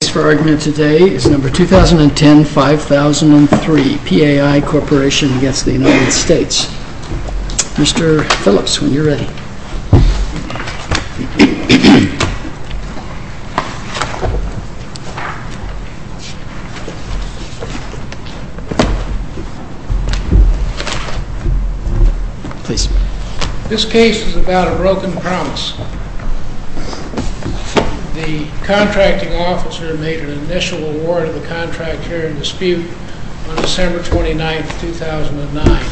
The case for argument today is number 2010-5003, Pai Corporation v. United States. Mr. Phillips, when you're ready. This case is about a broken promise. The contracting officer made an initial award of the contract here in dispute on December 29, 2009.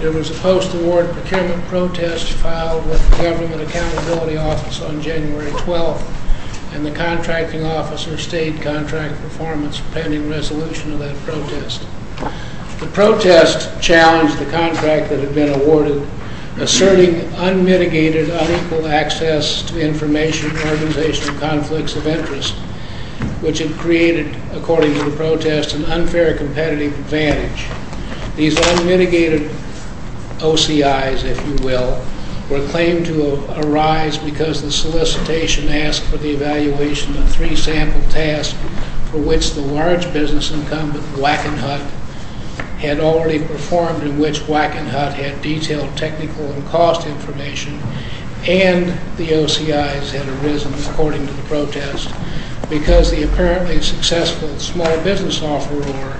There was a post-award procurement protest filed with the Government Accountability Office on January 12, and the contracting officer stated contract performance pending resolution of that protest. The protest challenged the contract that had been awarded, asserting unmitigated unequal access to information and organizational conflicts of interest, which had created, according to the protest, an unfair competitive advantage. These unmitigated OCIs, if you will, were claimed to arise because the solicitation asked for the evaluation of three sample tasks for which the large business incumbent, Wackenhut, had already performed and which Wackenhut had detailed technical and cost information, and the OCIs had arisen, according to the protest, because the apparently successful small business offeror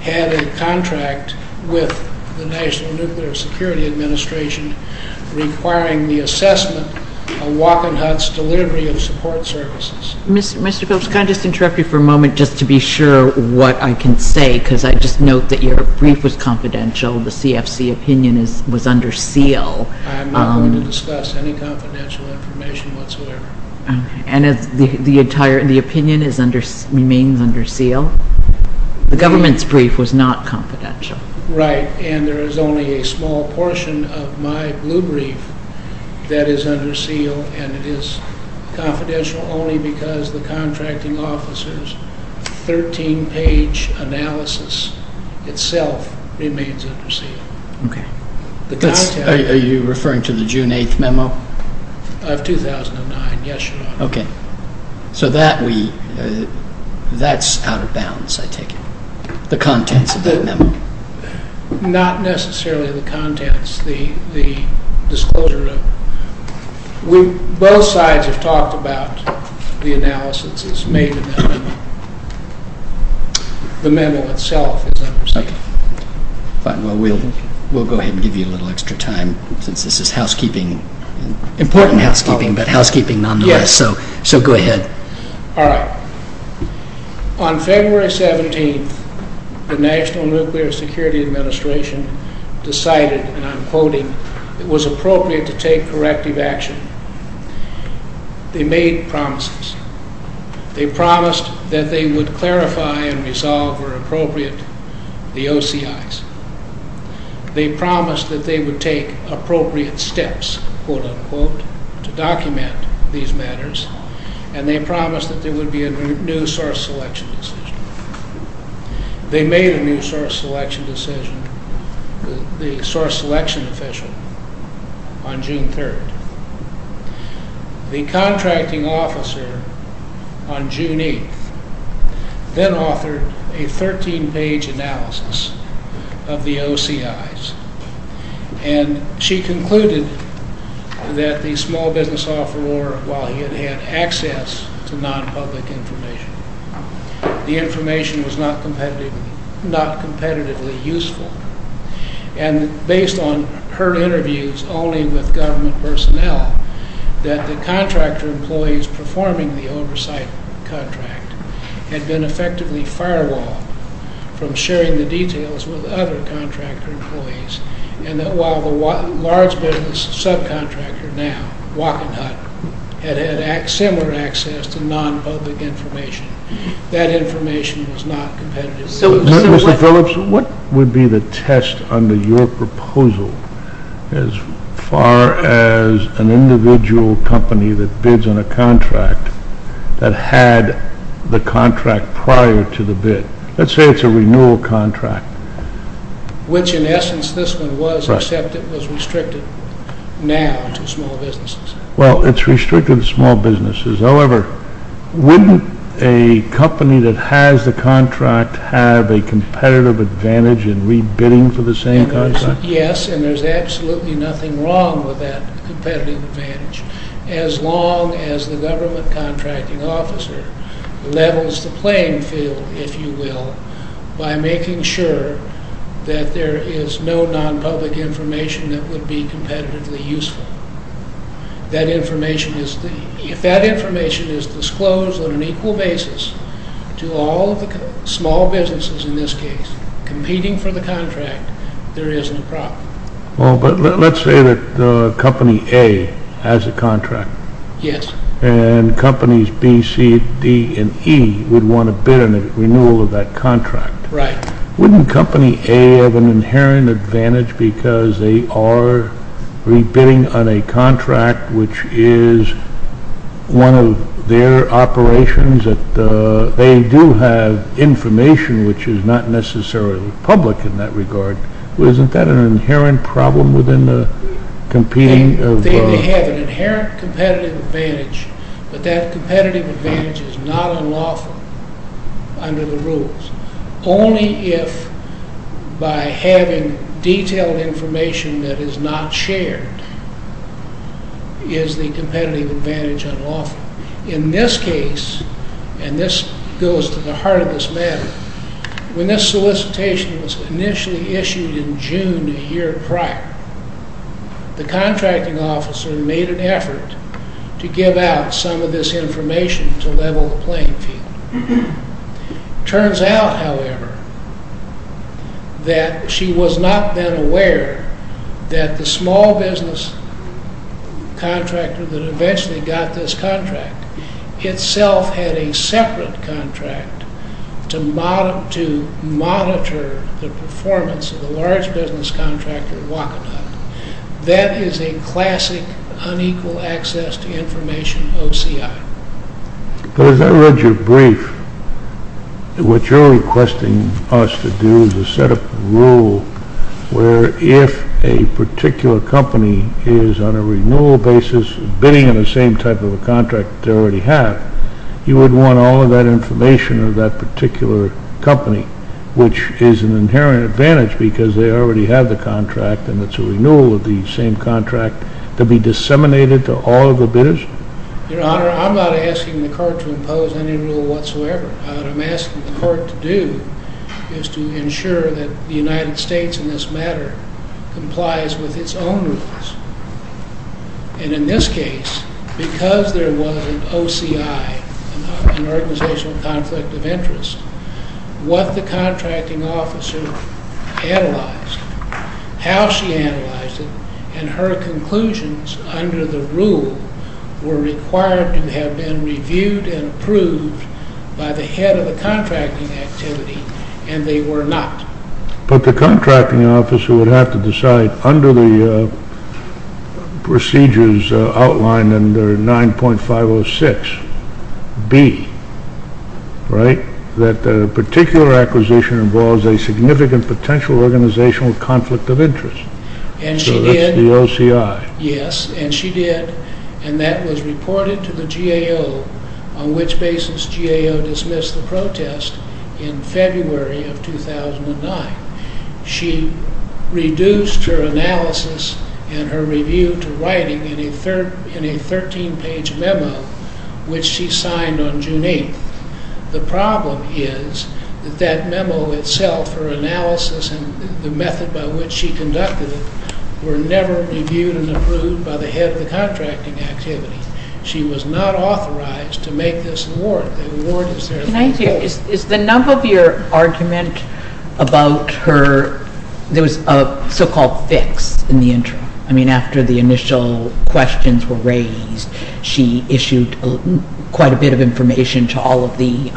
had a contract with the National Nuclear Security Administration requiring the assessment of Wackenhut's delivery of support services. Mr. Phillips, can I just interrupt you for a moment just to be sure what I can say, because I just note that your brief was confidential. The CFC opinion was under seal. I am not going to discuss any confidential information whatsoever. And the opinion remains under seal? The government's brief was not confidential. Right, and there is only a small portion of my blue brief that is under seal, and it is confidential only because the contracting officer's 13-page analysis itself remains under seal. Are you referring to the June 8th memo? So that is out of bounds, I take it, the contents of that memo? Not necessarily the contents. Both sides have talked about the analysis that is made in that memo. The memo itself is under seal. Fine. Well, we will go ahead and give you a little extra time since this is housekeeping. Important housekeeping, but housekeeping nonetheless, so go ahead. All right. On February 17th, the National Nuclear Security Administration decided, and I am quoting, it was appropriate to take corrective action. They made promises. They promised that they would clarify and resolve where appropriate the OCIs. They promised that they would take appropriate steps, quote-unquote, to document these matters, and they promised that there would be a new source selection decision. They made a new source selection decision, the source selection official, on June 3rd. The contracting officer on June 8th then authored a 13-page analysis of the OCIs, and she concluded that the small business offeror, while he had had access to non-public information, the information was not competitively useful, and based on her interviews only with government personnel, that the contractor employees performing the oversight contract had been effectively firewalled from sharing the details with other contractor employees, and that while the large business subcontractor now, Walking Hut, had had similar access to non-public information, that information was not competitive. Mr. Phillips, what would be the test under your proposal as far as an individual company that bids on a contract that had the contract prior to the bid? Let's say it's a renewal contract. Which, in essence, this one was, except it was restricted now to small businesses. Well, it's restricted to small businesses. However, wouldn't a company that has the contract have a competitive advantage in re-bidding for the same contract? Yes, and there's absolutely nothing wrong with that competitive advantage, as long as the government contracting officer levels the playing field, if you will, by making sure that there is no non-public information that would be competitively useful. If that information is disclosed on an equal basis to all the small businesses, in this case, competing for the contract, there isn't a problem. Well, but let's say that company A has a contract. Yes. And companies B, C, D, and E would want to bid on a renewal of that contract. Right. Wouldn't company A have an inherent advantage because they are re-bidding on a contract which is one of their operations? They do have information which is not necessarily public in that regard. Isn't that an inherent problem within the competing? They have an inherent competitive advantage, but that competitive advantage is not unlawful under the rules. Only if, by having detailed information that is not shared, is the competitive advantage unlawful. In this case, and this goes to the heart of this matter, when this solicitation was initially issued in June a year prior, the contracting officer made an effort to give out some of this information to level the playing field. Turns out, however, that she was not then aware that the small business contractor that eventually got this contract itself had a separate contract to monitor the performance of the large business contractor walking on it. That is a classic unequal access to information OCI. But as I read your brief, what you are requesting us to do is to set up a rule where if a particular company is on a renewal basis bidding on the same type of contract they already have, you would want all of that information of that particular company, which is an inherent advantage because they already have the contract and it is a renewal of the same contract, to be disseminated to all of the bidders? Your Honor, I am not asking the court to impose any rule whatsoever. What I am asking the court to do is to ensure that the United States in this matter complies with its own rules. And in this case, because there was an OCI, an organizational conflict of interest, what the contracting officer analyzed, how she analyzed it, and her conclusions under the rule were required to have been reviewed and approved by the head of the contracting activity, and they were not. But the contracting officer would have to decide under the procedures outlined under 9.506B, that a particular acquisition involves a significant potential organizational conflict of interest. So that is the OCI. Yes, and she did, and that was reported to the GAO, on which basis GAO dismissed the protest in February of 2009. She reduced her analysis and her review to writing in a 13-page memo, which she signed on June 8th. The problem is that that memo itself, her analysis and the method by which she conducted it, were never reviewed and approved by the head of the contracting activity. She was not authorized to make this warrant. The warrant is there. Can I ask you, is the number of your argument about her, there was a so-called fix in the interim. I mean, after the initial questions were raised, she issued quite a bit of information to all of the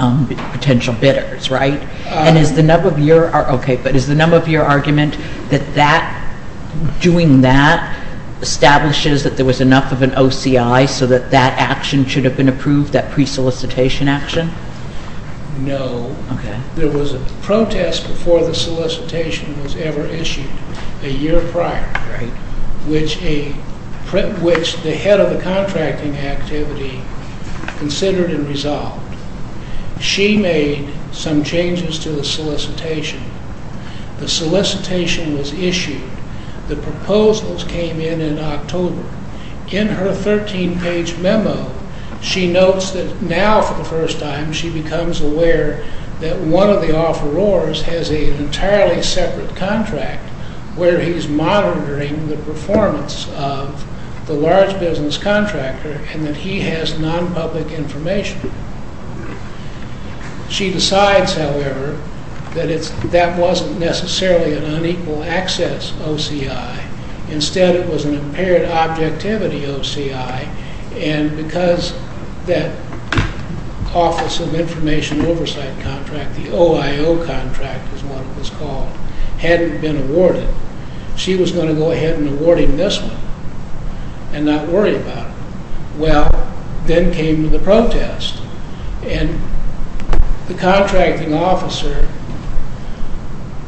potential bidders, right? And is the number of your argument that doing that establishes that there was enough of an OCI so that that action should have been approved, that pre-solicitation action? No. There was a protest before the solicitation was ever issued, a year prior, which the head of the contracting activity considered and resolved. She made some changes to the solicitation. The solicitation was issued. The proposals came in in October. In her 13-page memo, she notes that now, for the first time, she becomes aware that one of the offerors has an entirely separate contract where he's monitoring the performance of the large business contractor and that he has non-public information. She decides, however, that that wasn't necessarily an unequal access OCI. Instead, it was an impaired objectivity OCI, and because that Office of Information Oversight contract, the OIO contract is what it was called, hadn't been awarded, she was going to go ahead and award him this one and not worry about it. Well, then came the protest, and the contracting officer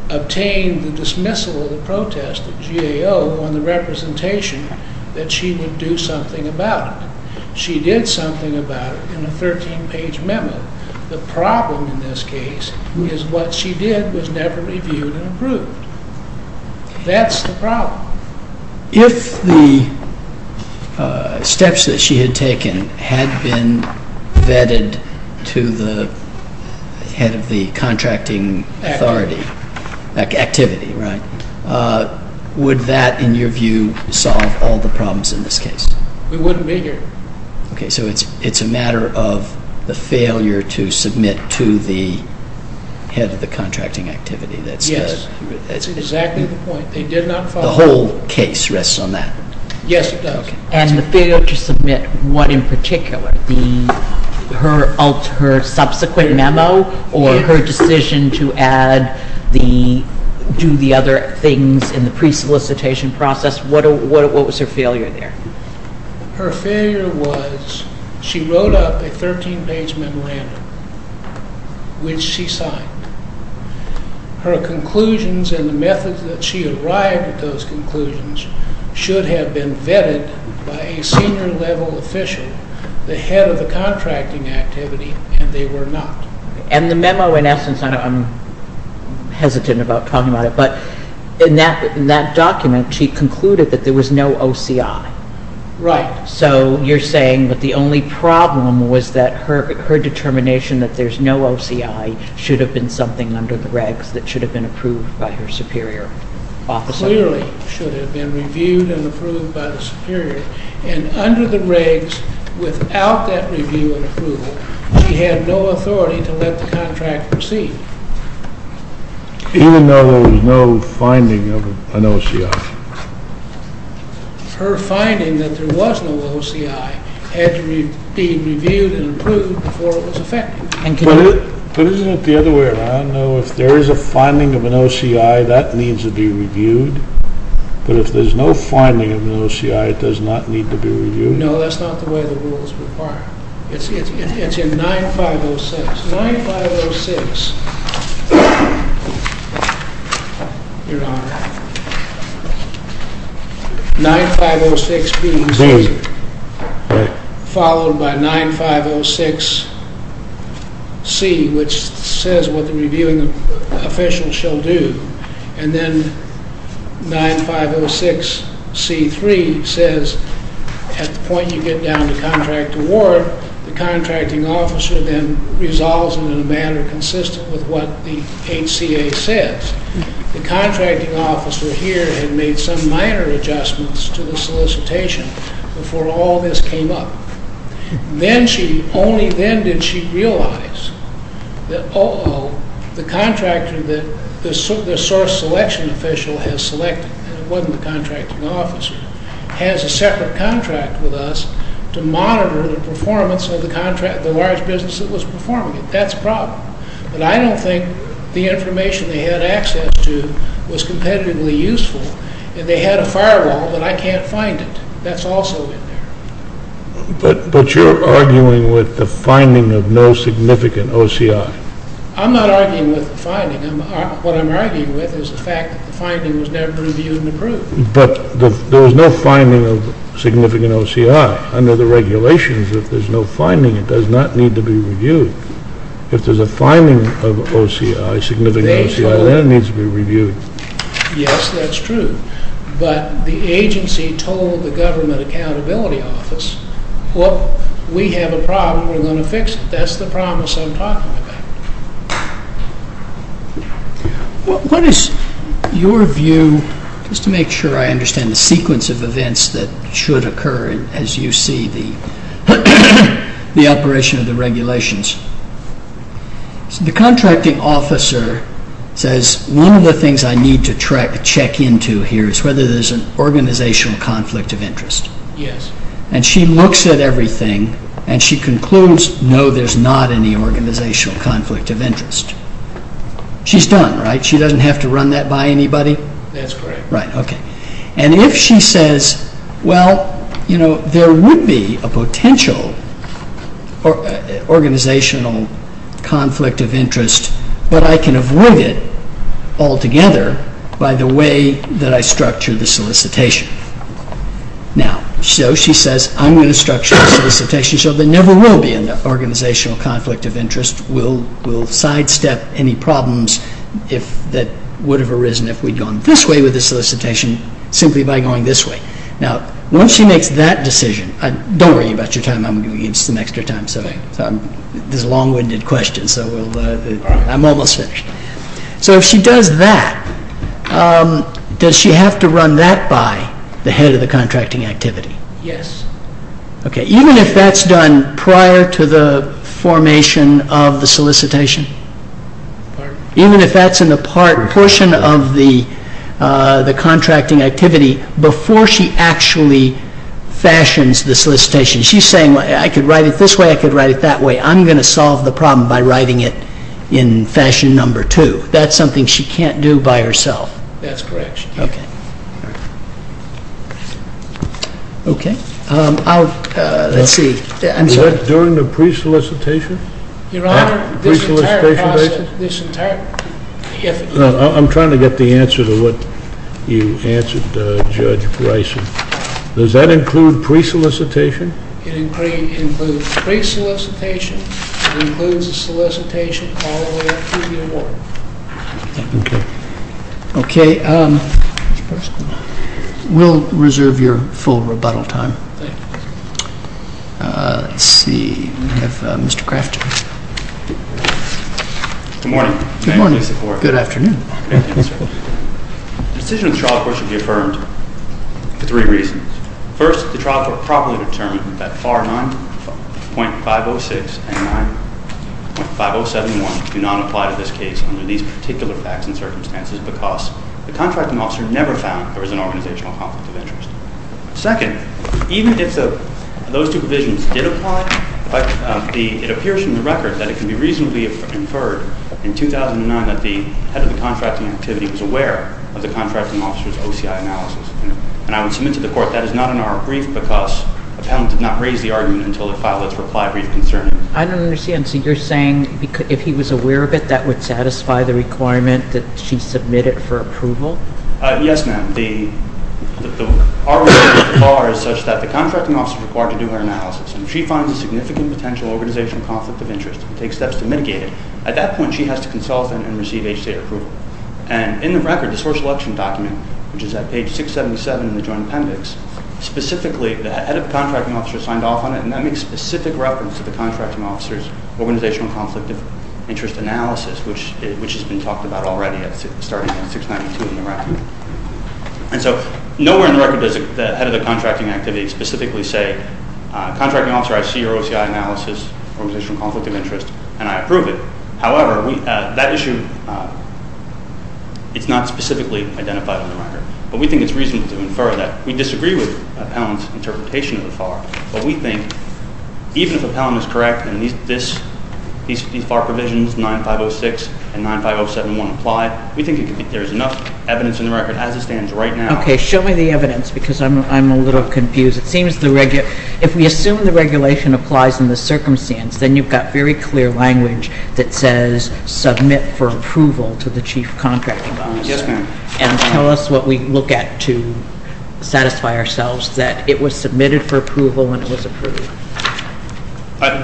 obtained the dismissal of the protest at GAO on the representation that she would do something about it. She did something about it in a 13-page memo. The problem in this case is what she did was never reviewed and approved. That's the problem. If the steps that she had taken had been vetted to the head of the contracting authority, activity, right, would that, in your view, solve all the problems in this case? We wouldn't be here. Okay, so it's a matter of the failure to submit to the head of the contracting activity. Yes, that's exactly the point. The whole case rests on that. Yes, it does. And the failure to submit what in particular, her subsequent memo or her decision to add the, do the other things in the pre-solicitation process, what was her failure there? Her failure was she wrote up a 13-page memorandum, which she signed. Her conclusions and the methods that she arrived at those conclusions should have been vetted by a senior level official, the head of the contracting activity, and they were not. And the memo in essence, I'm hesitant about talking about it, but in that document she concluded that there was no OCI. Right. So you're saying that the only problem was that her determination that there's no OCI should have been something under the regs that should have been approved by her superior. Clearly should have been reviewed and approved by the superior. And under the regs, without that review and approval, she had no authority to let the contract proceed. Even though there was no finding of an OCI. Her finding that there was no OCI had to be reviewed and approved before it was effected. But isn't it the other way around? No, if there is a finding of an OCI, that needs to be reviewed. But if there's no finding of an OCI, it does not need to be reviewed. No, that's not the way the rules require. It's in 9506. 9506. Your Honor. 9506B. Followed by 9506C, which says what the reviewing official shall do. And then 9506C3 says at the point you get down to contract award, the contracting officer then resolves it in a manner consistent with what the HCA says. The contracting officer here had made some minor adjustments to the solicitation before all this came up. Then she, only then did she realize that, uh-oh, the contractor that the source selection official has selected, and it wasn't the contracting officer, has a separate contract with us to monitor the performance of the large business that was performing it. That's a problem. But I don't think the information they had access to was competitively useful. And they had a firewall, but I can't find it. That's also in there. But you're arguing with the finding of no significant OCI. I'm not arguing with the finding. What I'm arguing with is the fact that the finding was never reviewed and approved. But there was no finding of significant OCI under the regulations. If there's no finding, it does not need to be reviewed. If there's a finding of OCI, significant OCI, then it needs to be reviewed. Yes, that's true. But the agency told the Government Accountability Office, well, we have a problem, we're going to fix it. That's the promise I'm talking about. What is your view, just to make sure I understand the sequence of events that should occur as you see the operation of the regulations. The contracting officer says one of the things I need to check into here is whether there's an organizational conflict of interest. Yes. And she looks at everything and she concludes, no, there's not any organizational conflict of interest. She's done, right? She doesn't have to run that by anybody? That's correct. Right, okay. And if she says, well, you know, there would be a potential organizational conflict of interest, but I can avoid it altogether by the way that I structure the solicitation. Now, so she says, I'm going to structure the solicitation so there never will be an organizational conflict of interest. We'll sidestep any problems that would have arisen if we'd gone this way with the solicitation simply by going this way. Now, once she makes that decision, don't worry about your time. I'm going to give you some extra time. This is a long-winded question, so I'm almost finished. So if she does that, does she have to run that by the head of the contracting activity? Yes. Okay, even if that's done prior to the formation of the solicitation? Even if that's in the portion of the contracting activity before she actually fashions the solicitation? She's saying, well, I could write it this way, I could write it that way. I'm going to solve the problem by writing it in fashion number two. That's something she can't do by herself? That's correct. Okay. Okay. I'll, let's see. Was that during the pre-solicitation? Your Honor, this entire process, this entire effort. I'm trying to get the answer to what you answered, Judge Bryson. Does that include pre-solicitation? It includes pre-solicitation. It includes the solicitation all the way up to the award. Okay. Okay. We'll reserve your full rebuttal time. Thank you. Let's see. We have Mr. Crafter. Good morning. Good morning. Thank you for your support. Good afternoon. Thank you, sir. The decision of the trial court should be affirmed for three reasons. First, the trial court properly determined that FAR 9.506 and 9.5071 do not apply to this case under these particular facts and circumstances because the contracting officer never found there was an organizational conflict of interest. Second, even if those two provisions did apply, it appears from the record that it can be reasonably inferred in 2009 that the head of the contracting activity was aware of the contracting officer's OCI analysis. And I would submit to the court that is not in our brief because the panel did not raise the argument until the file that's replied brief concerning it. I don't understand. So you're saying if he was aware of it, that would satisfy the requirement that she submit it for approval? Yes, ma'am. Our argument with FAR is such that the contracting officer is required to do her analysis. And if she finds a significant potential organizational conflict of interest and takes steps to mitigate it, at that point she has to consult and receive H-State approval. And in the record, the source election document, which is at page 677 in the joint appendix, specifically the head of the contracting officer signed off on it, and that makes specific reference to the contracting officer's organizational conflict of interest analysis, which has been talked about already starting at 692 in the record. And so nowhere in the record does the head of the contracting activity specifically say, contracting officer, I see your OCI analysis, organizational conflict of interest, and I approve it. However, that issue, it's not specifically identified on the record. But we think it's reasonable to infer that we disagree with Appellant's interpretation of the FAR, but we think even if Appellant is correct and these FAR provisions, 9506 and 95071, apply, we think there is enough evidence in the record as it stands right now. Okay. Show me the evidence because I'm a little confused. It seems if we assume the regulation applies in this circumstance, then you've got very clear language that says submit for approval to the chief contracting officer. Yes, ma'am. And tell us what we look at to satisfy ourselves, that it was submitted for approval and it was approved.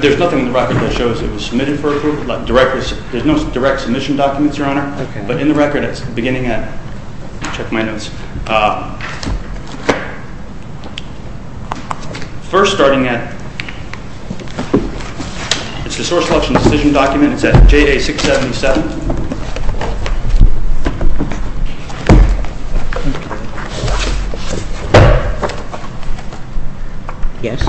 There's nothing in the record that shows it was submitted for approval. There's no direct submission documents, Your Honor. Okay. But in the record, it's beginning at, let me check my notes, first starting at, it's the source selection decision document. It's at JA677. Yes.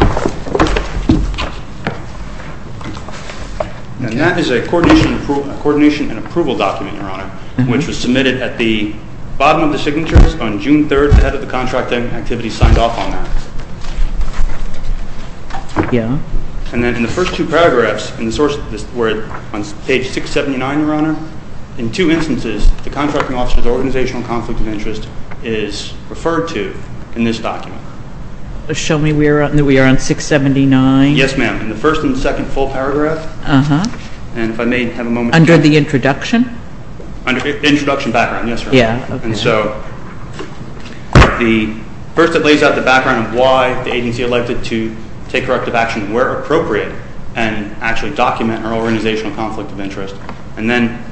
And that is a coordination and approval document, Your Honor, which was submitted at the bottom of the signatures on June 3rd, the head of the contracting activity signed off on that. Yeah. And then in the first two paragraphs in the source, Yes. And then in the first two paragraphs, Your Honor, in two instances, the contracting officer's organizational conflict of interest is referred to in this document. Show me we are on 679. Yes, ma'am. In the first and second full paragraphs. Uh-huh. And if I may have a moment. Under the introduction? Under the introduction background, yes, Your Honor. Yeah, okay. And so first it lays out the background of why the agency elected to take corrective action where appropriate and actually document our organizational conflict of interest. And then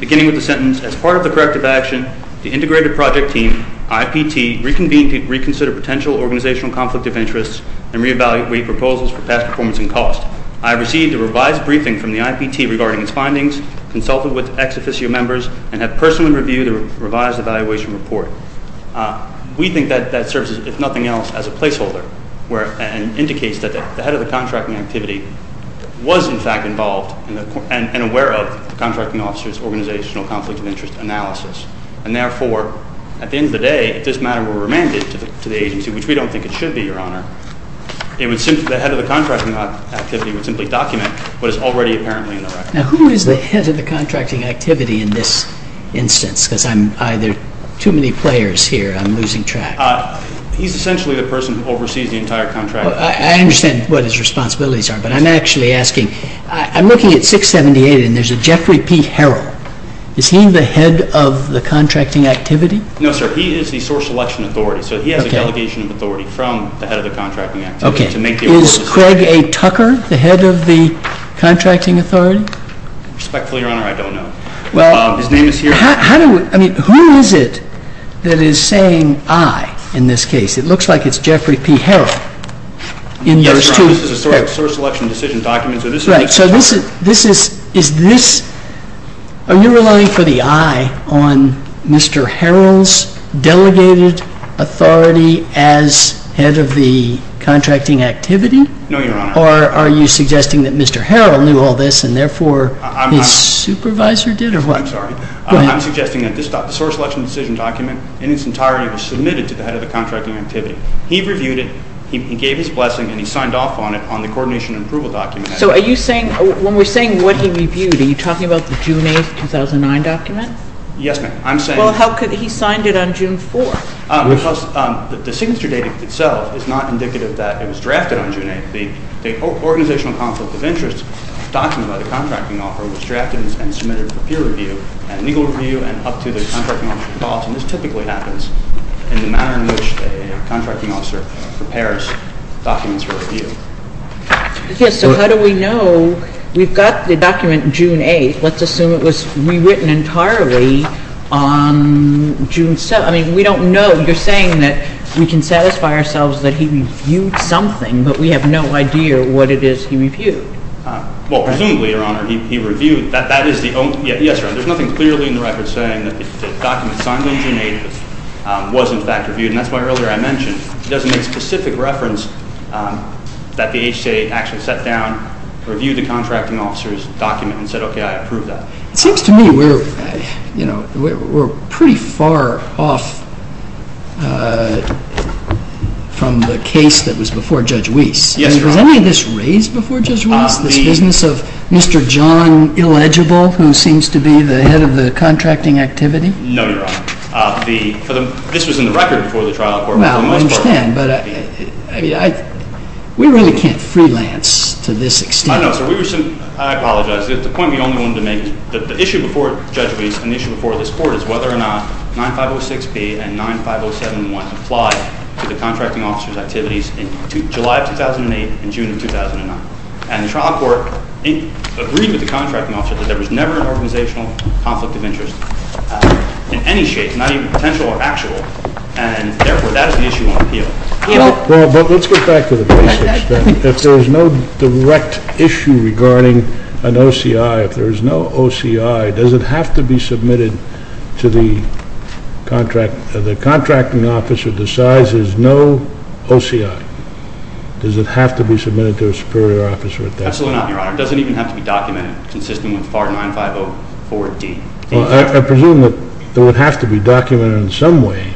beginning with the sentence, as part of the corrective action the integrated project team, IPT, reconvened to reconsider potential organizational conflict of interest and reevaluate proposals for past performance and cost. I received a revised briefing from the IPT regarding its findings, consulted with ex-officio members, and have personally reviewed the revised evaluation report. We think that that serves, if nothing else, as a placeholder and indicates that the head of the contracting activity was, in fact, involved and aware of the contracting officer's organizational conflict of interest analysis. And therefore, at the end of the day, if this matter were remanded to the agency, which we don't think it should be, Your Honor, the head of the contracting activity would simply document what is already apparently in the record. Now, who is the head of the contracting activity in this instance? Because I'm either too many players here. I'm losing track. He's essentially the person who oversees the entire contract. I understand what his responsibilities are, but I'm actually asking. I'm looking at 678 and there's a Jeffrey P. Harrell. Is he the head of the contracting activity? No, sir. He is the source selection authority, so he has a delegation of authority from the head of the contracting activity. Okay. Is Craig A. Tucker the head of the contracting authority? Respectfully, Your Honor, I don't know. His name is here. I mean, who is it that is saying I in this case? It looks like it's Jeffrey P. Harrell. Yes, Your Honor. This is a source selection decision document. Right. So this is, is this, are you relying for the I on Mr. Harrell's delegated authority as head of the contracting activity? No, Your Honor. Or are you suggesting that Mr. Harrell knew all this and therefore his supervisor did or what? I'm sorry. Go ahead. I'm suggesting that this source selection decision document in its entirety was submitted to the head of the contracting activity. He reviewed it. He gave his blessing and he signed off on it on the coordination and approval document. So are you saying, when we're saying what he reviewed, are you talking about the June 8, 2009 document? Yes, ma'am. I'm saying. Well, how could he sign it on June 4? Because the signature date itself is not indicative that it was drafted on June 8. The organizational conflict of interest document by the contracting officer was drafted and submitted for peer review and legal review and up to the contracting officer's thoughts. And this typically happens in the manner in which a contracting officer prepares documents for review. Yes. So how do we know? We've got the document June 8. Let's assume it was rewritten entirely on June 7. I mean, we don't know. You're saying that we can satisfy ourselves that he reviewed something, but we have no idea what it is he reviewed. Well, presumably, Your Honor, he reviewed. That is the only. Yes, Your Honor. There's nothing clearly in the record saying that the document signed on June 8 was, in fact, reviewed. And that's why earlier I mentioned he doesn't make specific reference that the HCA actually sat down, reviewed the contracting officer's document and said, okay, I approve that. It seems to me we're pretty far off from the case that was before Judge Weiss. Yes, Your Honor. I mean, was any of this raised before Judge Weiss, this business of Mr. John Illegible, who seems to be the head of the contracting activity? No, Your Honor. This was in the record before the trial in court. But we really can't freelance to this extent. I know. I apologize. The point we only wanted to make is that the issue before Judge Weiss and the issue before this Court is whether or not 9506B and 95071 apply to the contracting officer's activities in July of 2008 and June of 2009. And the trial court agreed with the contracting officer that there was never an organizational conflict of interest in any shape, not even potential or actual. And, therefore, that is an issue on appeal. But let's go back to the basics. If there is no direct issue regarding an OCI, if there is no OCI, does it have to be submitted to the contracting officer to decide there is no OCI? Does it have to be submitted to a superior officer at that point? Absolutely not, Your Honor. It doesn't even have to be documented, consistent with FAR 9504D. I presume that it would have to be documented in some way.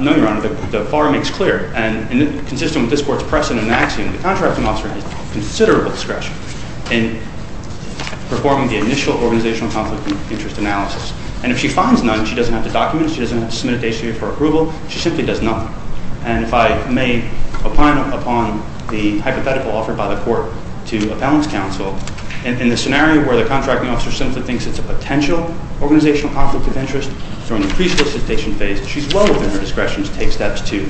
No, Your Honor. The FAR makes clear, and consistent with this Court's precedent and axiom, the contracting officer has considerable discretion in performing the initial organizational conflict of interest analysis. And if she finds none, she doesn't have to document it. She doesn't have to submit it to ACA for approval. She simply does nothing. And if I may, upon the hypothetical offered by the Court to a balance counsel, in the scenario where the contracting officer simply thinks it's a potential organizational conflict of interest, during the pre-solicitation phase, she's well within her discretion to take steps to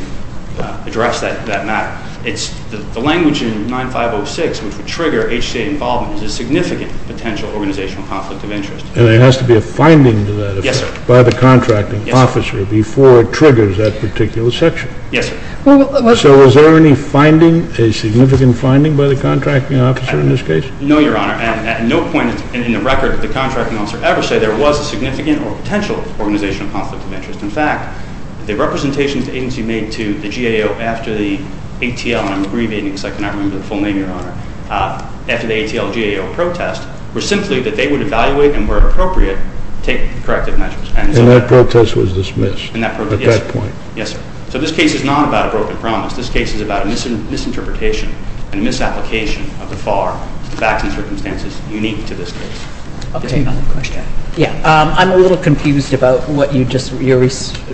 address that matter. The language in 9506, which would trigger HCA involvement, is a significant potential organizational conflict of interest. And there has to be a finding to that effect by the contracting officer before it triggers that particular section? Yes, sir. So is there any finding, a significant finding, by the contracting officer in this case? No, Your Honor. At no point in the record did the contracting officer ever say there was a significant or potential organizational conflict of interest. In fact, the representations the agency made to the GAO after the ATL, and I'm abbreviating so I cannot remember the full name, Your Honor, after the ATL-GAO protest were simply that they would evaluate and, where appropriate, take corrective measures. And that protest was dismissed at that point? Yes, sir. So this case is not about a broken promise. This case is about a misinterpretation and a misapplication of the FAR, facts and circumstances, unique to this case. Okay. Another question. Yes. I'm a little confused about what you just, your response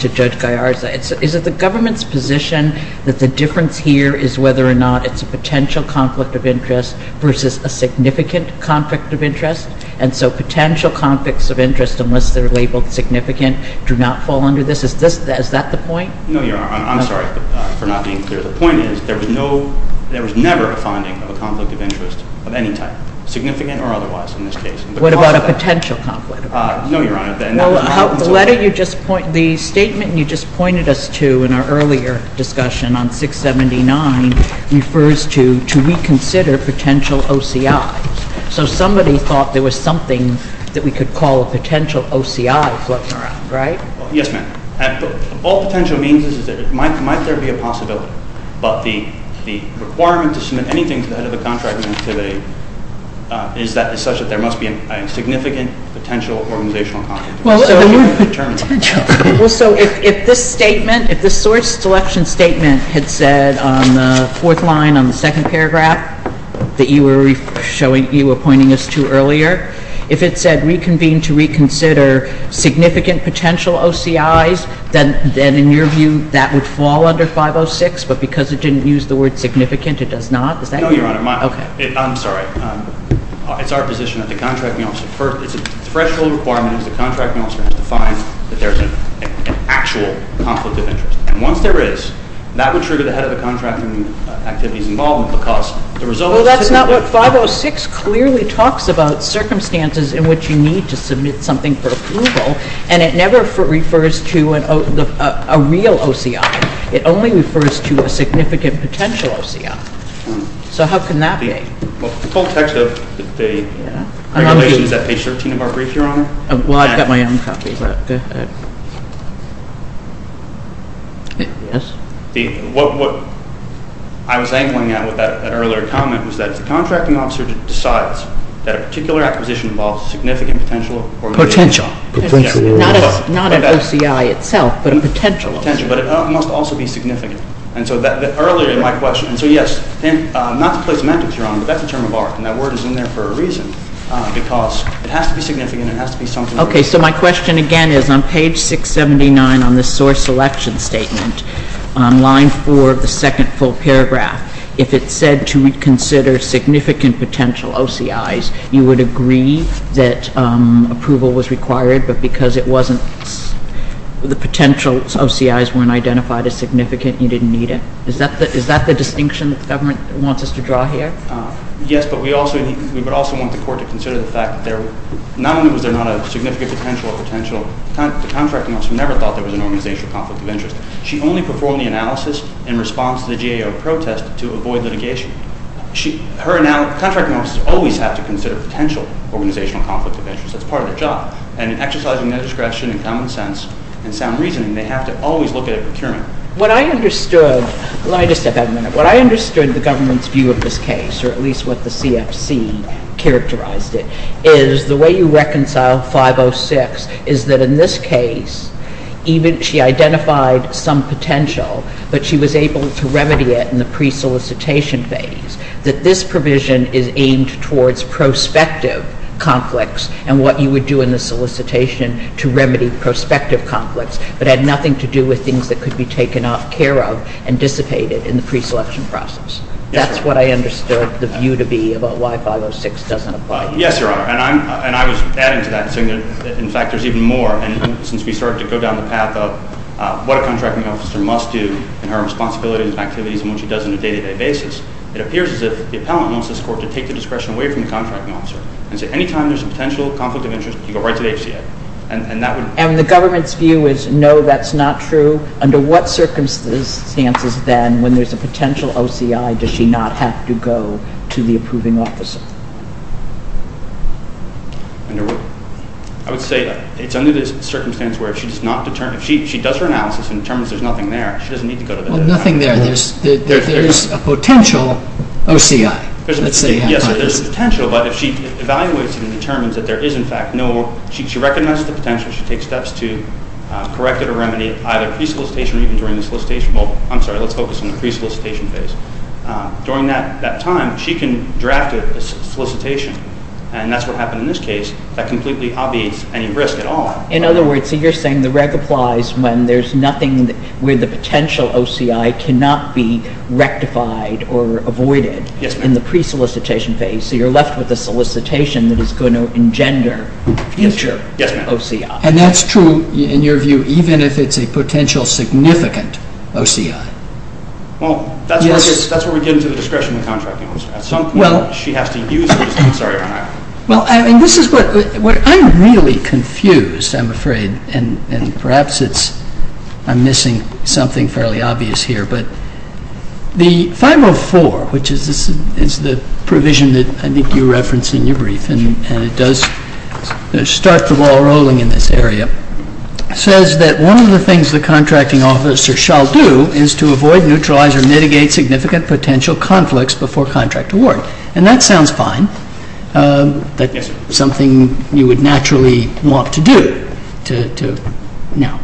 to Judge Gallarza. Is it the government's position that the difference here is whether or not it's a potential conflict of interest versus a significant conflict of interest? And so potential conflicts of interest, unless they're labeled significant, do not fall under this? Is that the point? No, Your Honor. I'm sorry for not being clear. The point is there was no, there was never a finding of a conflict of interest of any type, significant or otherwise, in this case. What about a potential conflict of interest? No, Your Honor. The letter you just pointed, the statement you just pointed us to in our earlier discussion on 679 refers to, to reconsider potential OCI. So somebody thought there was something that we could call a potential OCI floating around, right? Yes, ma'am. All potential means is that, might there be a possibility, but the requirement to submit anything to the head of the contracting entity is such that there must be a significant potential organizational conflict of interest. Well, so if this statement, if the source selection statement had said on the fourth line on the second paragraph that you were pointing us to earlier, if it said reconvene to reconsider significant potential OCI's, then in your view that would fall under 506. But because it didn't use the word significant, it does not, does that mean? No, Your Honor. Okay. I'm sorry. It's our position that the contracting officer, it's a threshold requirement that the contracting officer has to find that there's an actual conflict of interest. And once there is, that would trigger the head of the contracting activity's involvement because the result is typically... Well, that's not what 506 clearly talks about circumstances in which you need to submit something for approval, and it never refers to a real OCI. It only refers to a significant potential OCI. So how can that be? Well, the full text of the regulation is at page 13 of our brief, Your Honor. Well, I've got my own copy. Yes. What I was angling at with that earlier comment was that if the contracting officer decides that a particular acquisition involves significant potential... Potential. Potential. Not an OCI itself, but a potential OCI. Potential, but it must also be significant. Earlier in my question... So yes, not to play semantics, Your Honor, but that's a term of art, and that word is in there for a reason, because it has to be significant, it has to be something... Okay, so my question again is on page 679 on the source selection statement, on line 4 of the second full paragraph, if it said to consider significant potential OCIs, you would agree that approval was required, but because it wasn't... The potential OCIs weren't identified as significant potential OCIs, you didn't need it? Is that the distinction that the government wants us to draw here? Yes, but we would also want the court to consider the fact that not only was there not a significant potential, the contracting officer never thought there was an organizational conflict of interest. She only performed the analysis in response to the GAO protest to avoid litigation. Contracting officers always have to consider potential organizational conflict of interest. That's part of their job, and in exercising their discretion and common sense and sound reasoning, they have to always look at a procurement. What I understood... Let me just step back a minute. What I understood the government's view of this case, or at least what the CFC characterized it, is the way you reconcile 506 is that in this case, she identified some potential, but she was able to remedy it in the pre-solicitation phase, that this provision is aimed towards prospective conflicts and what you would do in the solicitation to remedy prospective conflicts, but had nothing to do with things that could be taken up, cared of, and dissipated in the pre-selection process. That's what I understood the view to be about why 506 doesn't apply. Yes, Your Honor. And I was adding to that, saying that in fact there's even more, and since we started to go down the path of what a contracting officer must do and her responsibilities and activities and what she does on a day-to-day basis, it appears as if the appellant wants this court to take the discretion away from the contracting officer and say anytime there's a potential conflict of interest, you go right to the HCA. And the government's view is no, that's not true. Under what circumstances then, when there's a potential OCI, does she not have to go to the approving officer? I would say it's under the circumstance where if she does her analysis and determines there's nothing there, she doesn't need to go to the appellant. Well, nothing there. There's a potential OCI. Yes, there's a potential, but if she evaluates it and determines that there is in fact no, she recognizes the potential, she takes steps to correct it or remedy it, either pre- solicitation or even during the solicitation. Well, I'm sorry, let's focus on the pre-solicitation phase. During that time, she can draft a solicitation and that's what happened in this case that completely obviates any risk at all. In other words, so you're saying the reg applies when there's nothing where the potential OCI cannot be rectified or avoided in the pre-solicitation phase, so you're left with a solicitation that is going to engender future OCI. Yes, ma'am. And that's true, in your view, even if it's a potential significant OCI. Well, that's where we get into the discretion of the contracting officer. At some point, she has to use it. I'm sorry, Your Honor. Well, this is what I'm really confused, I'm afraid, and perhaps it's I'm missing something fairly obvious here, but the 504, which is the provision that I think you referenced in your brief, and it does start the ball rolling in this area, says that one of the things the contracting officer shall do is to avoid, neutralize, or mitigate significant potential conflicts before contract award. And that sounds fine, that's something you would naturally want to do. Now,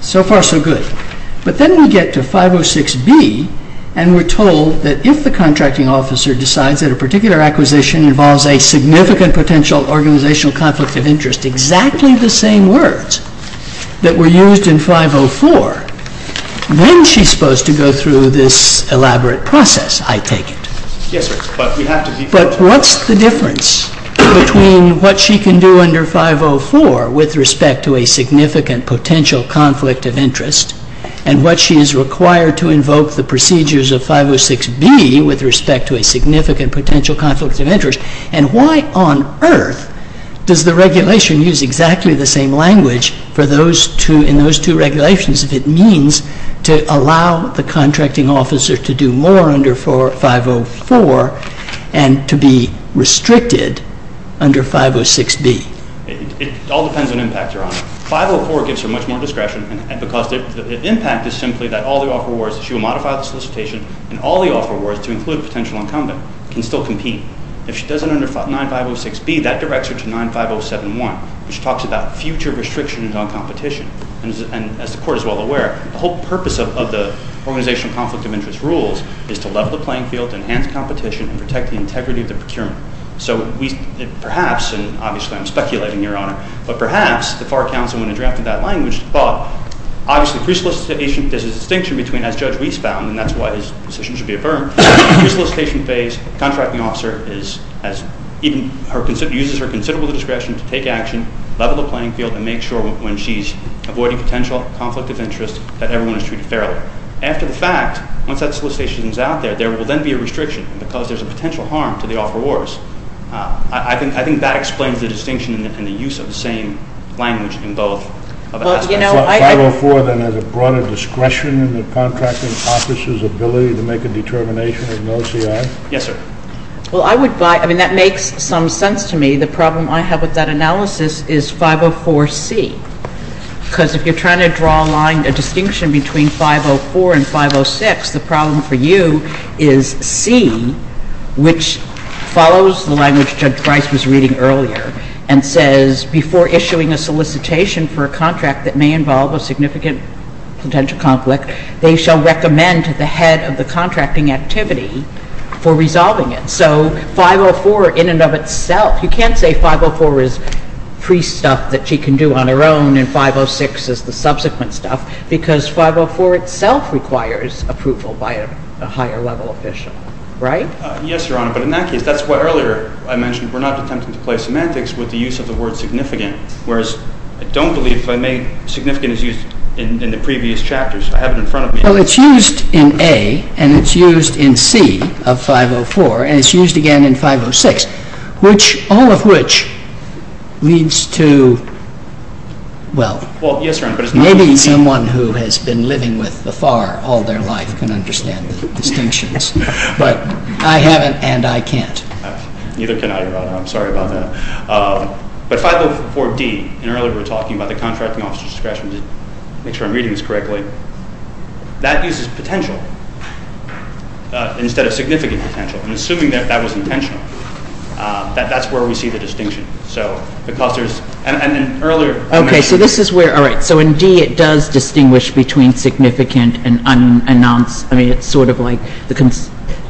so far, so good. But then we get to 506B and we're told that if the contracting officer decides that a particular acquisition involves a significant potential organizational conflict of interest exactly the same words that were used in 504, then she's supposed to go through this elaborate process, I take it. Yes, sir. But what's the difference between what she can do under 504 with respect to a significant potential conflict of interest, and what she is required to invoke the procedures of 506B with respect to a significant potential conflict of interest, and why on earth does the regulation use exactly the same language for those two, in those two regulations, if it means to allow the contracting officer to do more under 504 and to be restricted under 506B? It all depends on impact, Your Honor. 504 gives her much more discretion because the impact is simply that all the offer awards, she will modify the solicitation, and all the offer awards to include a potential incumbent can still compete. If she does it under 9506B, that directs her to 95071, which talks about future restrictions on competition. And as the Court is well aware, the whole purpose of the organizational conflict of interest rules is to level the playing field, enhance competition, and protect the integrity of the procurement. So perhaps, and obviously I'm speculating, Your Honor, but perhaps the FAR Council, when it drafted that language, thought, obviously pre- solicitation, there's a distinction between, as Judge Weiss found, and that's why his position should be affirmed, pre-solicitation phase, contracting officer is, as even her position, uses her considerable discretion to take action, level the playing field, and make sure when she's avoiding potential conflict of interest, that everyone is treated fairly. After the fact, once that solicitation is out there, there will then be a restriction, because there's a potential harm to the offer awards. I think that explains the distinction and the use of the same language in both. Well, you know, I 504 then has a broader discretion in the contracting officer's ability to make a determination of no CI? Yes, sir. Well, I would buy, I mean, that makes some sense to me. The problem I have with that analysis is 504C, because if you're trying to draw a line, a distinction between 504 and 506, the problem for you is C, which follows the language Judge Weiss was reading earlier, and says, before issuing a solicitation for a contract that may involve a significant potential conflict, they shall recommend to the head of the contracting activity for resolving it. So 504 in and of itself, you can't say 504 is free stuff that she can do on her own, and 506 is the subsequent stuff, because 504 itself requires approval by a higher level official, right? Yes, Your Honor, but in that case, that's why earlier I mentioned we're not attempting to play semantics with the use of the word significant, whereas I don't believe if I may, significant is used in the previous chapters. I have it in front of me. Well, it's used in A, and it's used in C of 504, and it's used again in 506, which all of which leads to, well, maybe someone who has been living with the FAR all their life can understand the distinctions, but I haven't, and I can't. Neither can I, Your Honor. I'm sorry about that. But 504D, and earlier we were talking about the contracting officer's discretion to make sure I'm reading this correctly, that uses potential. Instead of significant potential. I'm assuming that that was intentional. That's where we see the distinction. So, because there's, and in earlier, Okay, so this is where, alright, so in D it does distinguish between significant and unannounced. I mean, it's sort of like,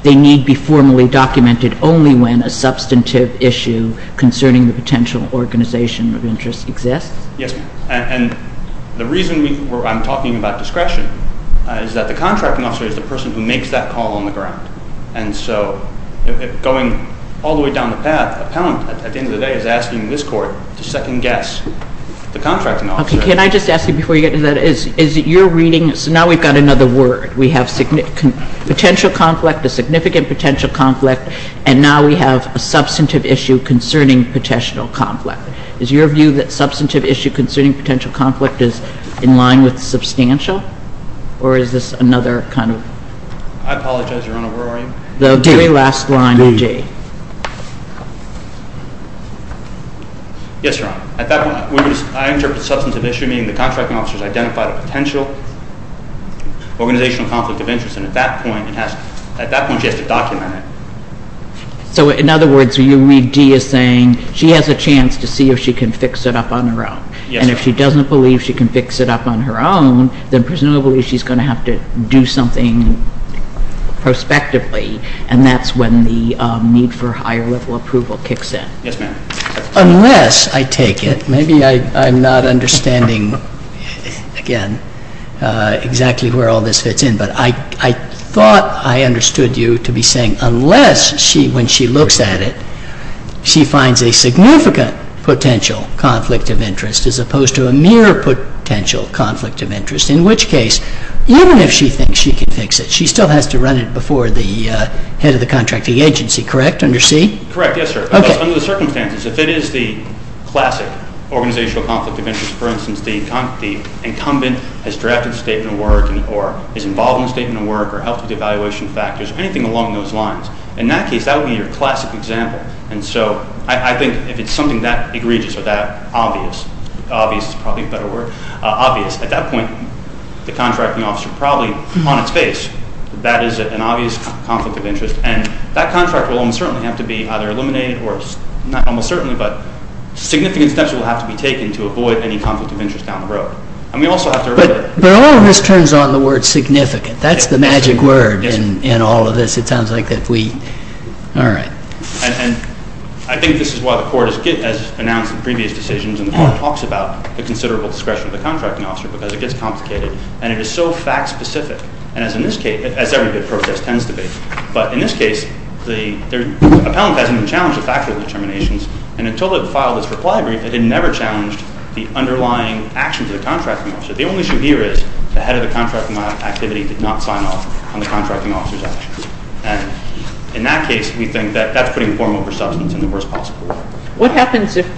they need to be formally documented only when a substantive issue concerning the potential organization of interest exists? Yes, and the reason I'm talking about discretion is that the contracting officer is the person who makes that call on the ground. And so, going all the way down the path, the appellant at the end of the day is asking this court to second guess the contracting officer. Okay, can I just ask you before you get to that, is it your reading, so now we've got another word. We have potential conflict, a significant potential conflict, and now we have a substantive issue concerning potential conflict. Is your view that substantive issue concerning potential conflict is in line with substantial? Or is this another kind of... I apologize, Your Honor. Where are you? The very last line of D. D. Yes, Your Honor. At that point, I interpret substantive issue meaning the contracting officer has identified a potential organizational conflict of interest, and at that point it has, at that point she has to document it. So, in other words, you read D as saying she has a chance to see if she can fix it up on her own. Yes, Your Honor. And if she doesn't believe she can fix it up on her own, then perhaps the person who believes she's going to have to do something prospectively, and that's when the need for higher level approval kicks in. Yes, ma'am. Unless, I take it, maybe I'm not understanding, again, exactly where all this fits in, but I thought I understood you to be saying unless she, when she looks at it, she finds a significant potential conflict of interest as opposed to a mere potential conflict of interest, in which case, even if she thinks she can fix it, she still has to run it before the head of the contracting agency, correct? Under C? Correct. Yes, sir. Because under the circumstances, if it is the classic organizational conflict of interest, for instance, the incumbent has drafted a statement of work or is involved in a statement of work or helps with the evaluation factors or anything along those lines, in that case that would be your classic example. And so, I think if it's something that egregious or that obvious, obvious is probably a better word, obvious. At that point, the contracting officer probably, on its face, that is an obvious conflict of interest, and that contract will almost certainly have to be either eliminated or, not almost certainly, but significant steps will have to be taken to avoid any conflict of interest down the road. And we also have to remember that... But all of this turns on the word significant. That's the magic word in all of this. It sounds like that we... All right. And I think this is why the court has announced in previous decisions and the court talks about the considerable discretion of the contracting officer because it gets complicated and it is so fact-specific. And as in this case, as every good process tends to be. But in this case, the appellant hasn't even challenged the factual determinations, and until it filed its reply brief, it had never challenged the underlying actions of the contracting officer. The only issue here is the head of the contracting activity did not sign off on the contracting officer's action. And in that case, we think that that's putting form over substance in the worst possible way. What happens if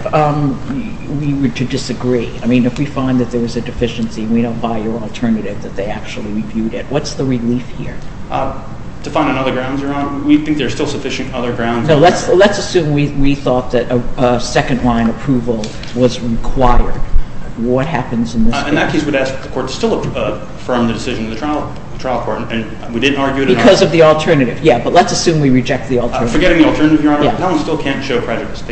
we were to disagree? I mean, if we find that there was a deficiency, we don't buy your alternative that they actually reviewed it. What's the relief here? To find another grounds, Your Honor? We think there's still sufficient other grounds. No. Let's assume we thought that a second-line approval was required. What happens in this case? In that case, we'd ask that the court still affirm the decision of the trial court, and we didn't argue it at all. Because of the alternative. Yeah. But let's assume we reject the alternative. Forgetting the alternative, Your Honor. Yeah. Appellants still can't show prejudice.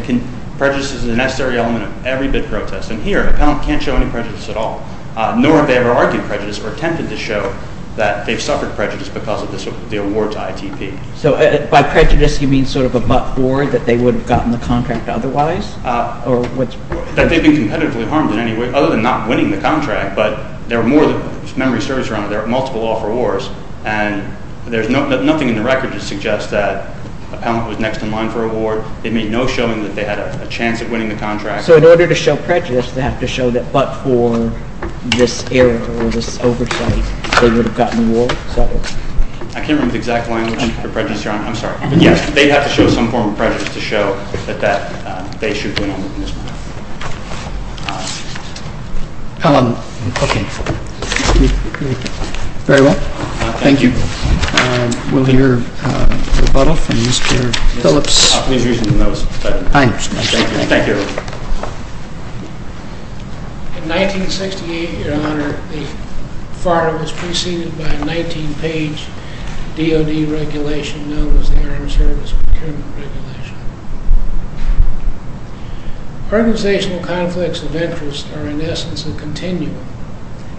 Prejudice is a necessary element of every bid protest. And here, an appellant can't show any prejudice at all. Nor have they ever argued prejudice or attempted to show that they've suffered prejudice because of the award to ITP. So by prejudice, you mean sort of a but-for that they would have gotten the contract otherwise? Or what's... That they've been competitively harmed in any way, other than not winning the contract. But there are more that memory serves, Your Honor. There are multiple offer wars. And there's nothing in the record that suggests that an appellant was next in line for an award. They made no showing that they had a chance of winning the contract. So in order to show prejudice, they have to show that but-for this error or this oversight, they would have gotten the award? I can't remember the exact language for prejudice, Your Honor. I'm sorry. But yes, they have to show some form of prejudice to show that that they should win on this We'll hear a rebuttal from Mr. Phillips. I'm pleased to be here. Thank you. Thank you. Thank you. Thank you. Thank you. Thank you. Thank you. Thank you. In 1968, Your Honor, the FAR was preceded by a 19-page DOD regulation known as the Armed Service Procurement Regulation. Organizational conflicts of interest are in essence a continuum,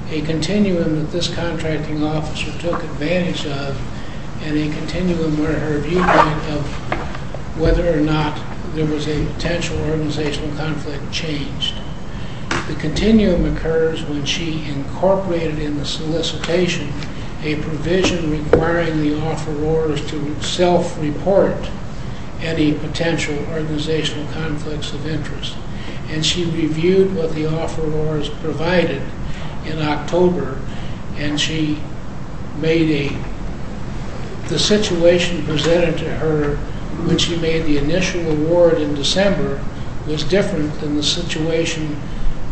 a continuum that this contracting officer took advantage of, and a continuum where her viewpoint of whether or not there was a potential organizational conflict changed. The continuum occurs when she incorporated in the solicitation a provision requiring the offerors to self-report any potential organizational conflicts of interest, and she reviewed what the offerors provided in October, and she made a... the situation presented to her when she made the initial award in December was different than the situation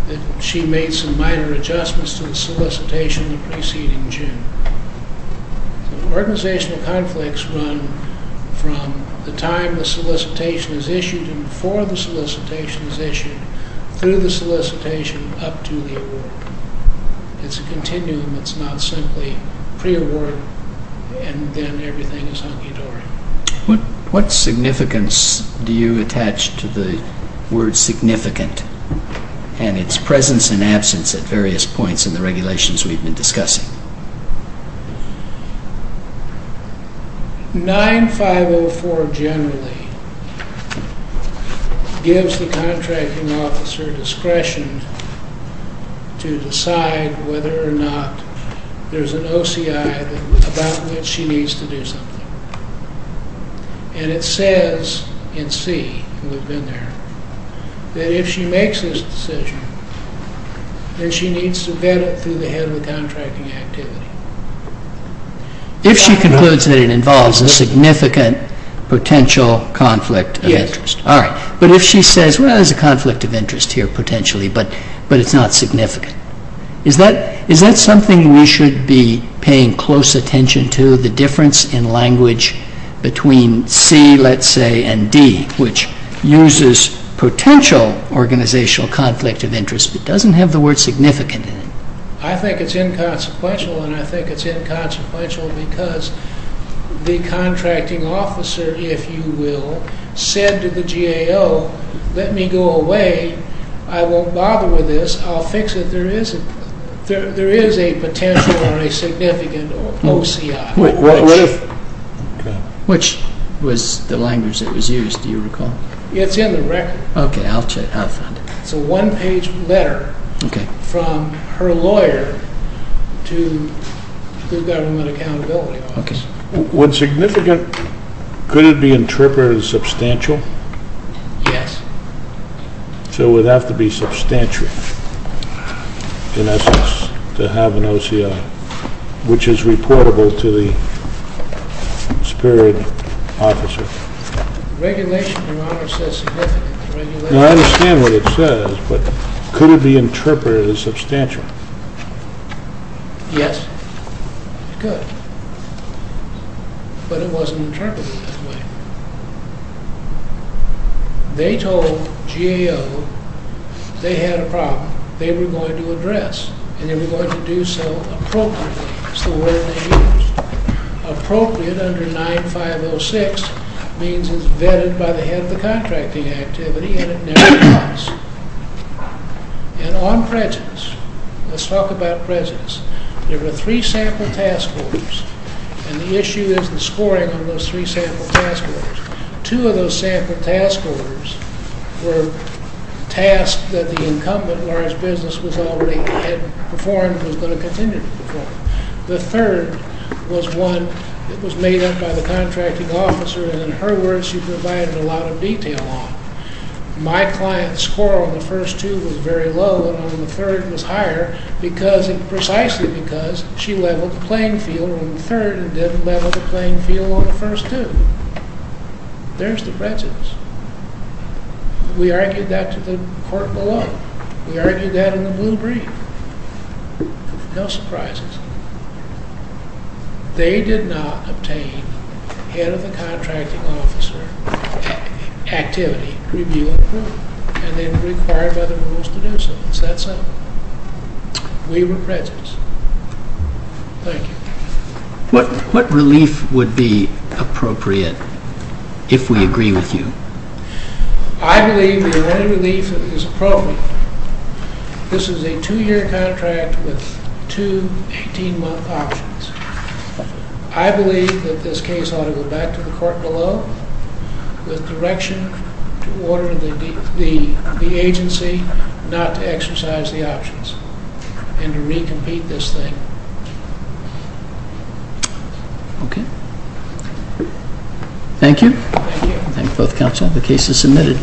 that she made some minor adjustments to the solicitation the preceding June. Organizational conflicts run from the time the solicitation is issued and before the solicitation is issued through the solicitation up to the award. It's a continuum. It's not simply pre-award and then everything is hunky-dory. What significance do you attach to the word significant and its presence and absence at various points in the regulations we've been discussing? 9504 generally gives the contracting officer discretion to decide whether or not there's an interest in the contract. If there is an interest, she needs to do something, and it says in C, that if she makes this decision, then she needs to get it through the head of the contracting activity. If she concludes that it involves a significant potential conflict of interest. All right. But if she says, well, there's a conflict of interest here potentially, but it's not significant. Is that something we should be paying close attention to, the difference in language between C, let's say, and D, which uses potential organizational conflict of interest but doesn't have the word significant in it? I think it's inconsequential, and I think it's inconsequential because the contracting officer, if you will, said to the GAO, let me go away. I won't bother with this. I'll fix it. There is a potential or a significant OCI. Which was the language that was used, do you recall? It's in the record. Okay. I'll find it. It's a one-page letter from her lawyer to the government accountability office. Okay. When significant, could it be interpreted as substantial? Yes. So it would have to be substantial in essence to have an OCI, which is reportable to the superior officer. Regulation, your honor, says significant. I understand what it says, but could it be interpreted as substantial? Yes, it could, but it wasn't interpreted that way. They told GAO they had a problem. They were going to address and they were going to do so appropriately is the word they used. Appropriate under 9506 means it is vetted by the head of the contracting activity and it never was. And on prejudice, let's talk about prejudice. There were three sample task orders and the issue is the scoring of those three sample task orders. Two of those sample task orders were tasks that the incumbent in large business was already had performed and was going to continue to perform. The third was one that was made up by the contracting officer and in her words she provided a lot of detail on. My client's score on the first two was very low and on the third was higher precisely because she leveled the playing field on the third and didn't level the playing field on the first two. There's the prejudice. We argued that to the court below. We argued that in the blue brief. No surprises. They did not obtain head of the contracting officer activity review approval and they were required by the rules to do so in that sample. We were prejudiced. Thank you. What relief would be appropriate if we agree with you? I believe the only relief that is appropriate, this is a two year contract with two 18 month options. I believe that this case ought to go back to the court below with direction to order the agency not to exercise the options and to re-compete this thing. Okay. Thank you. Thank you both counsel. The case is submitted.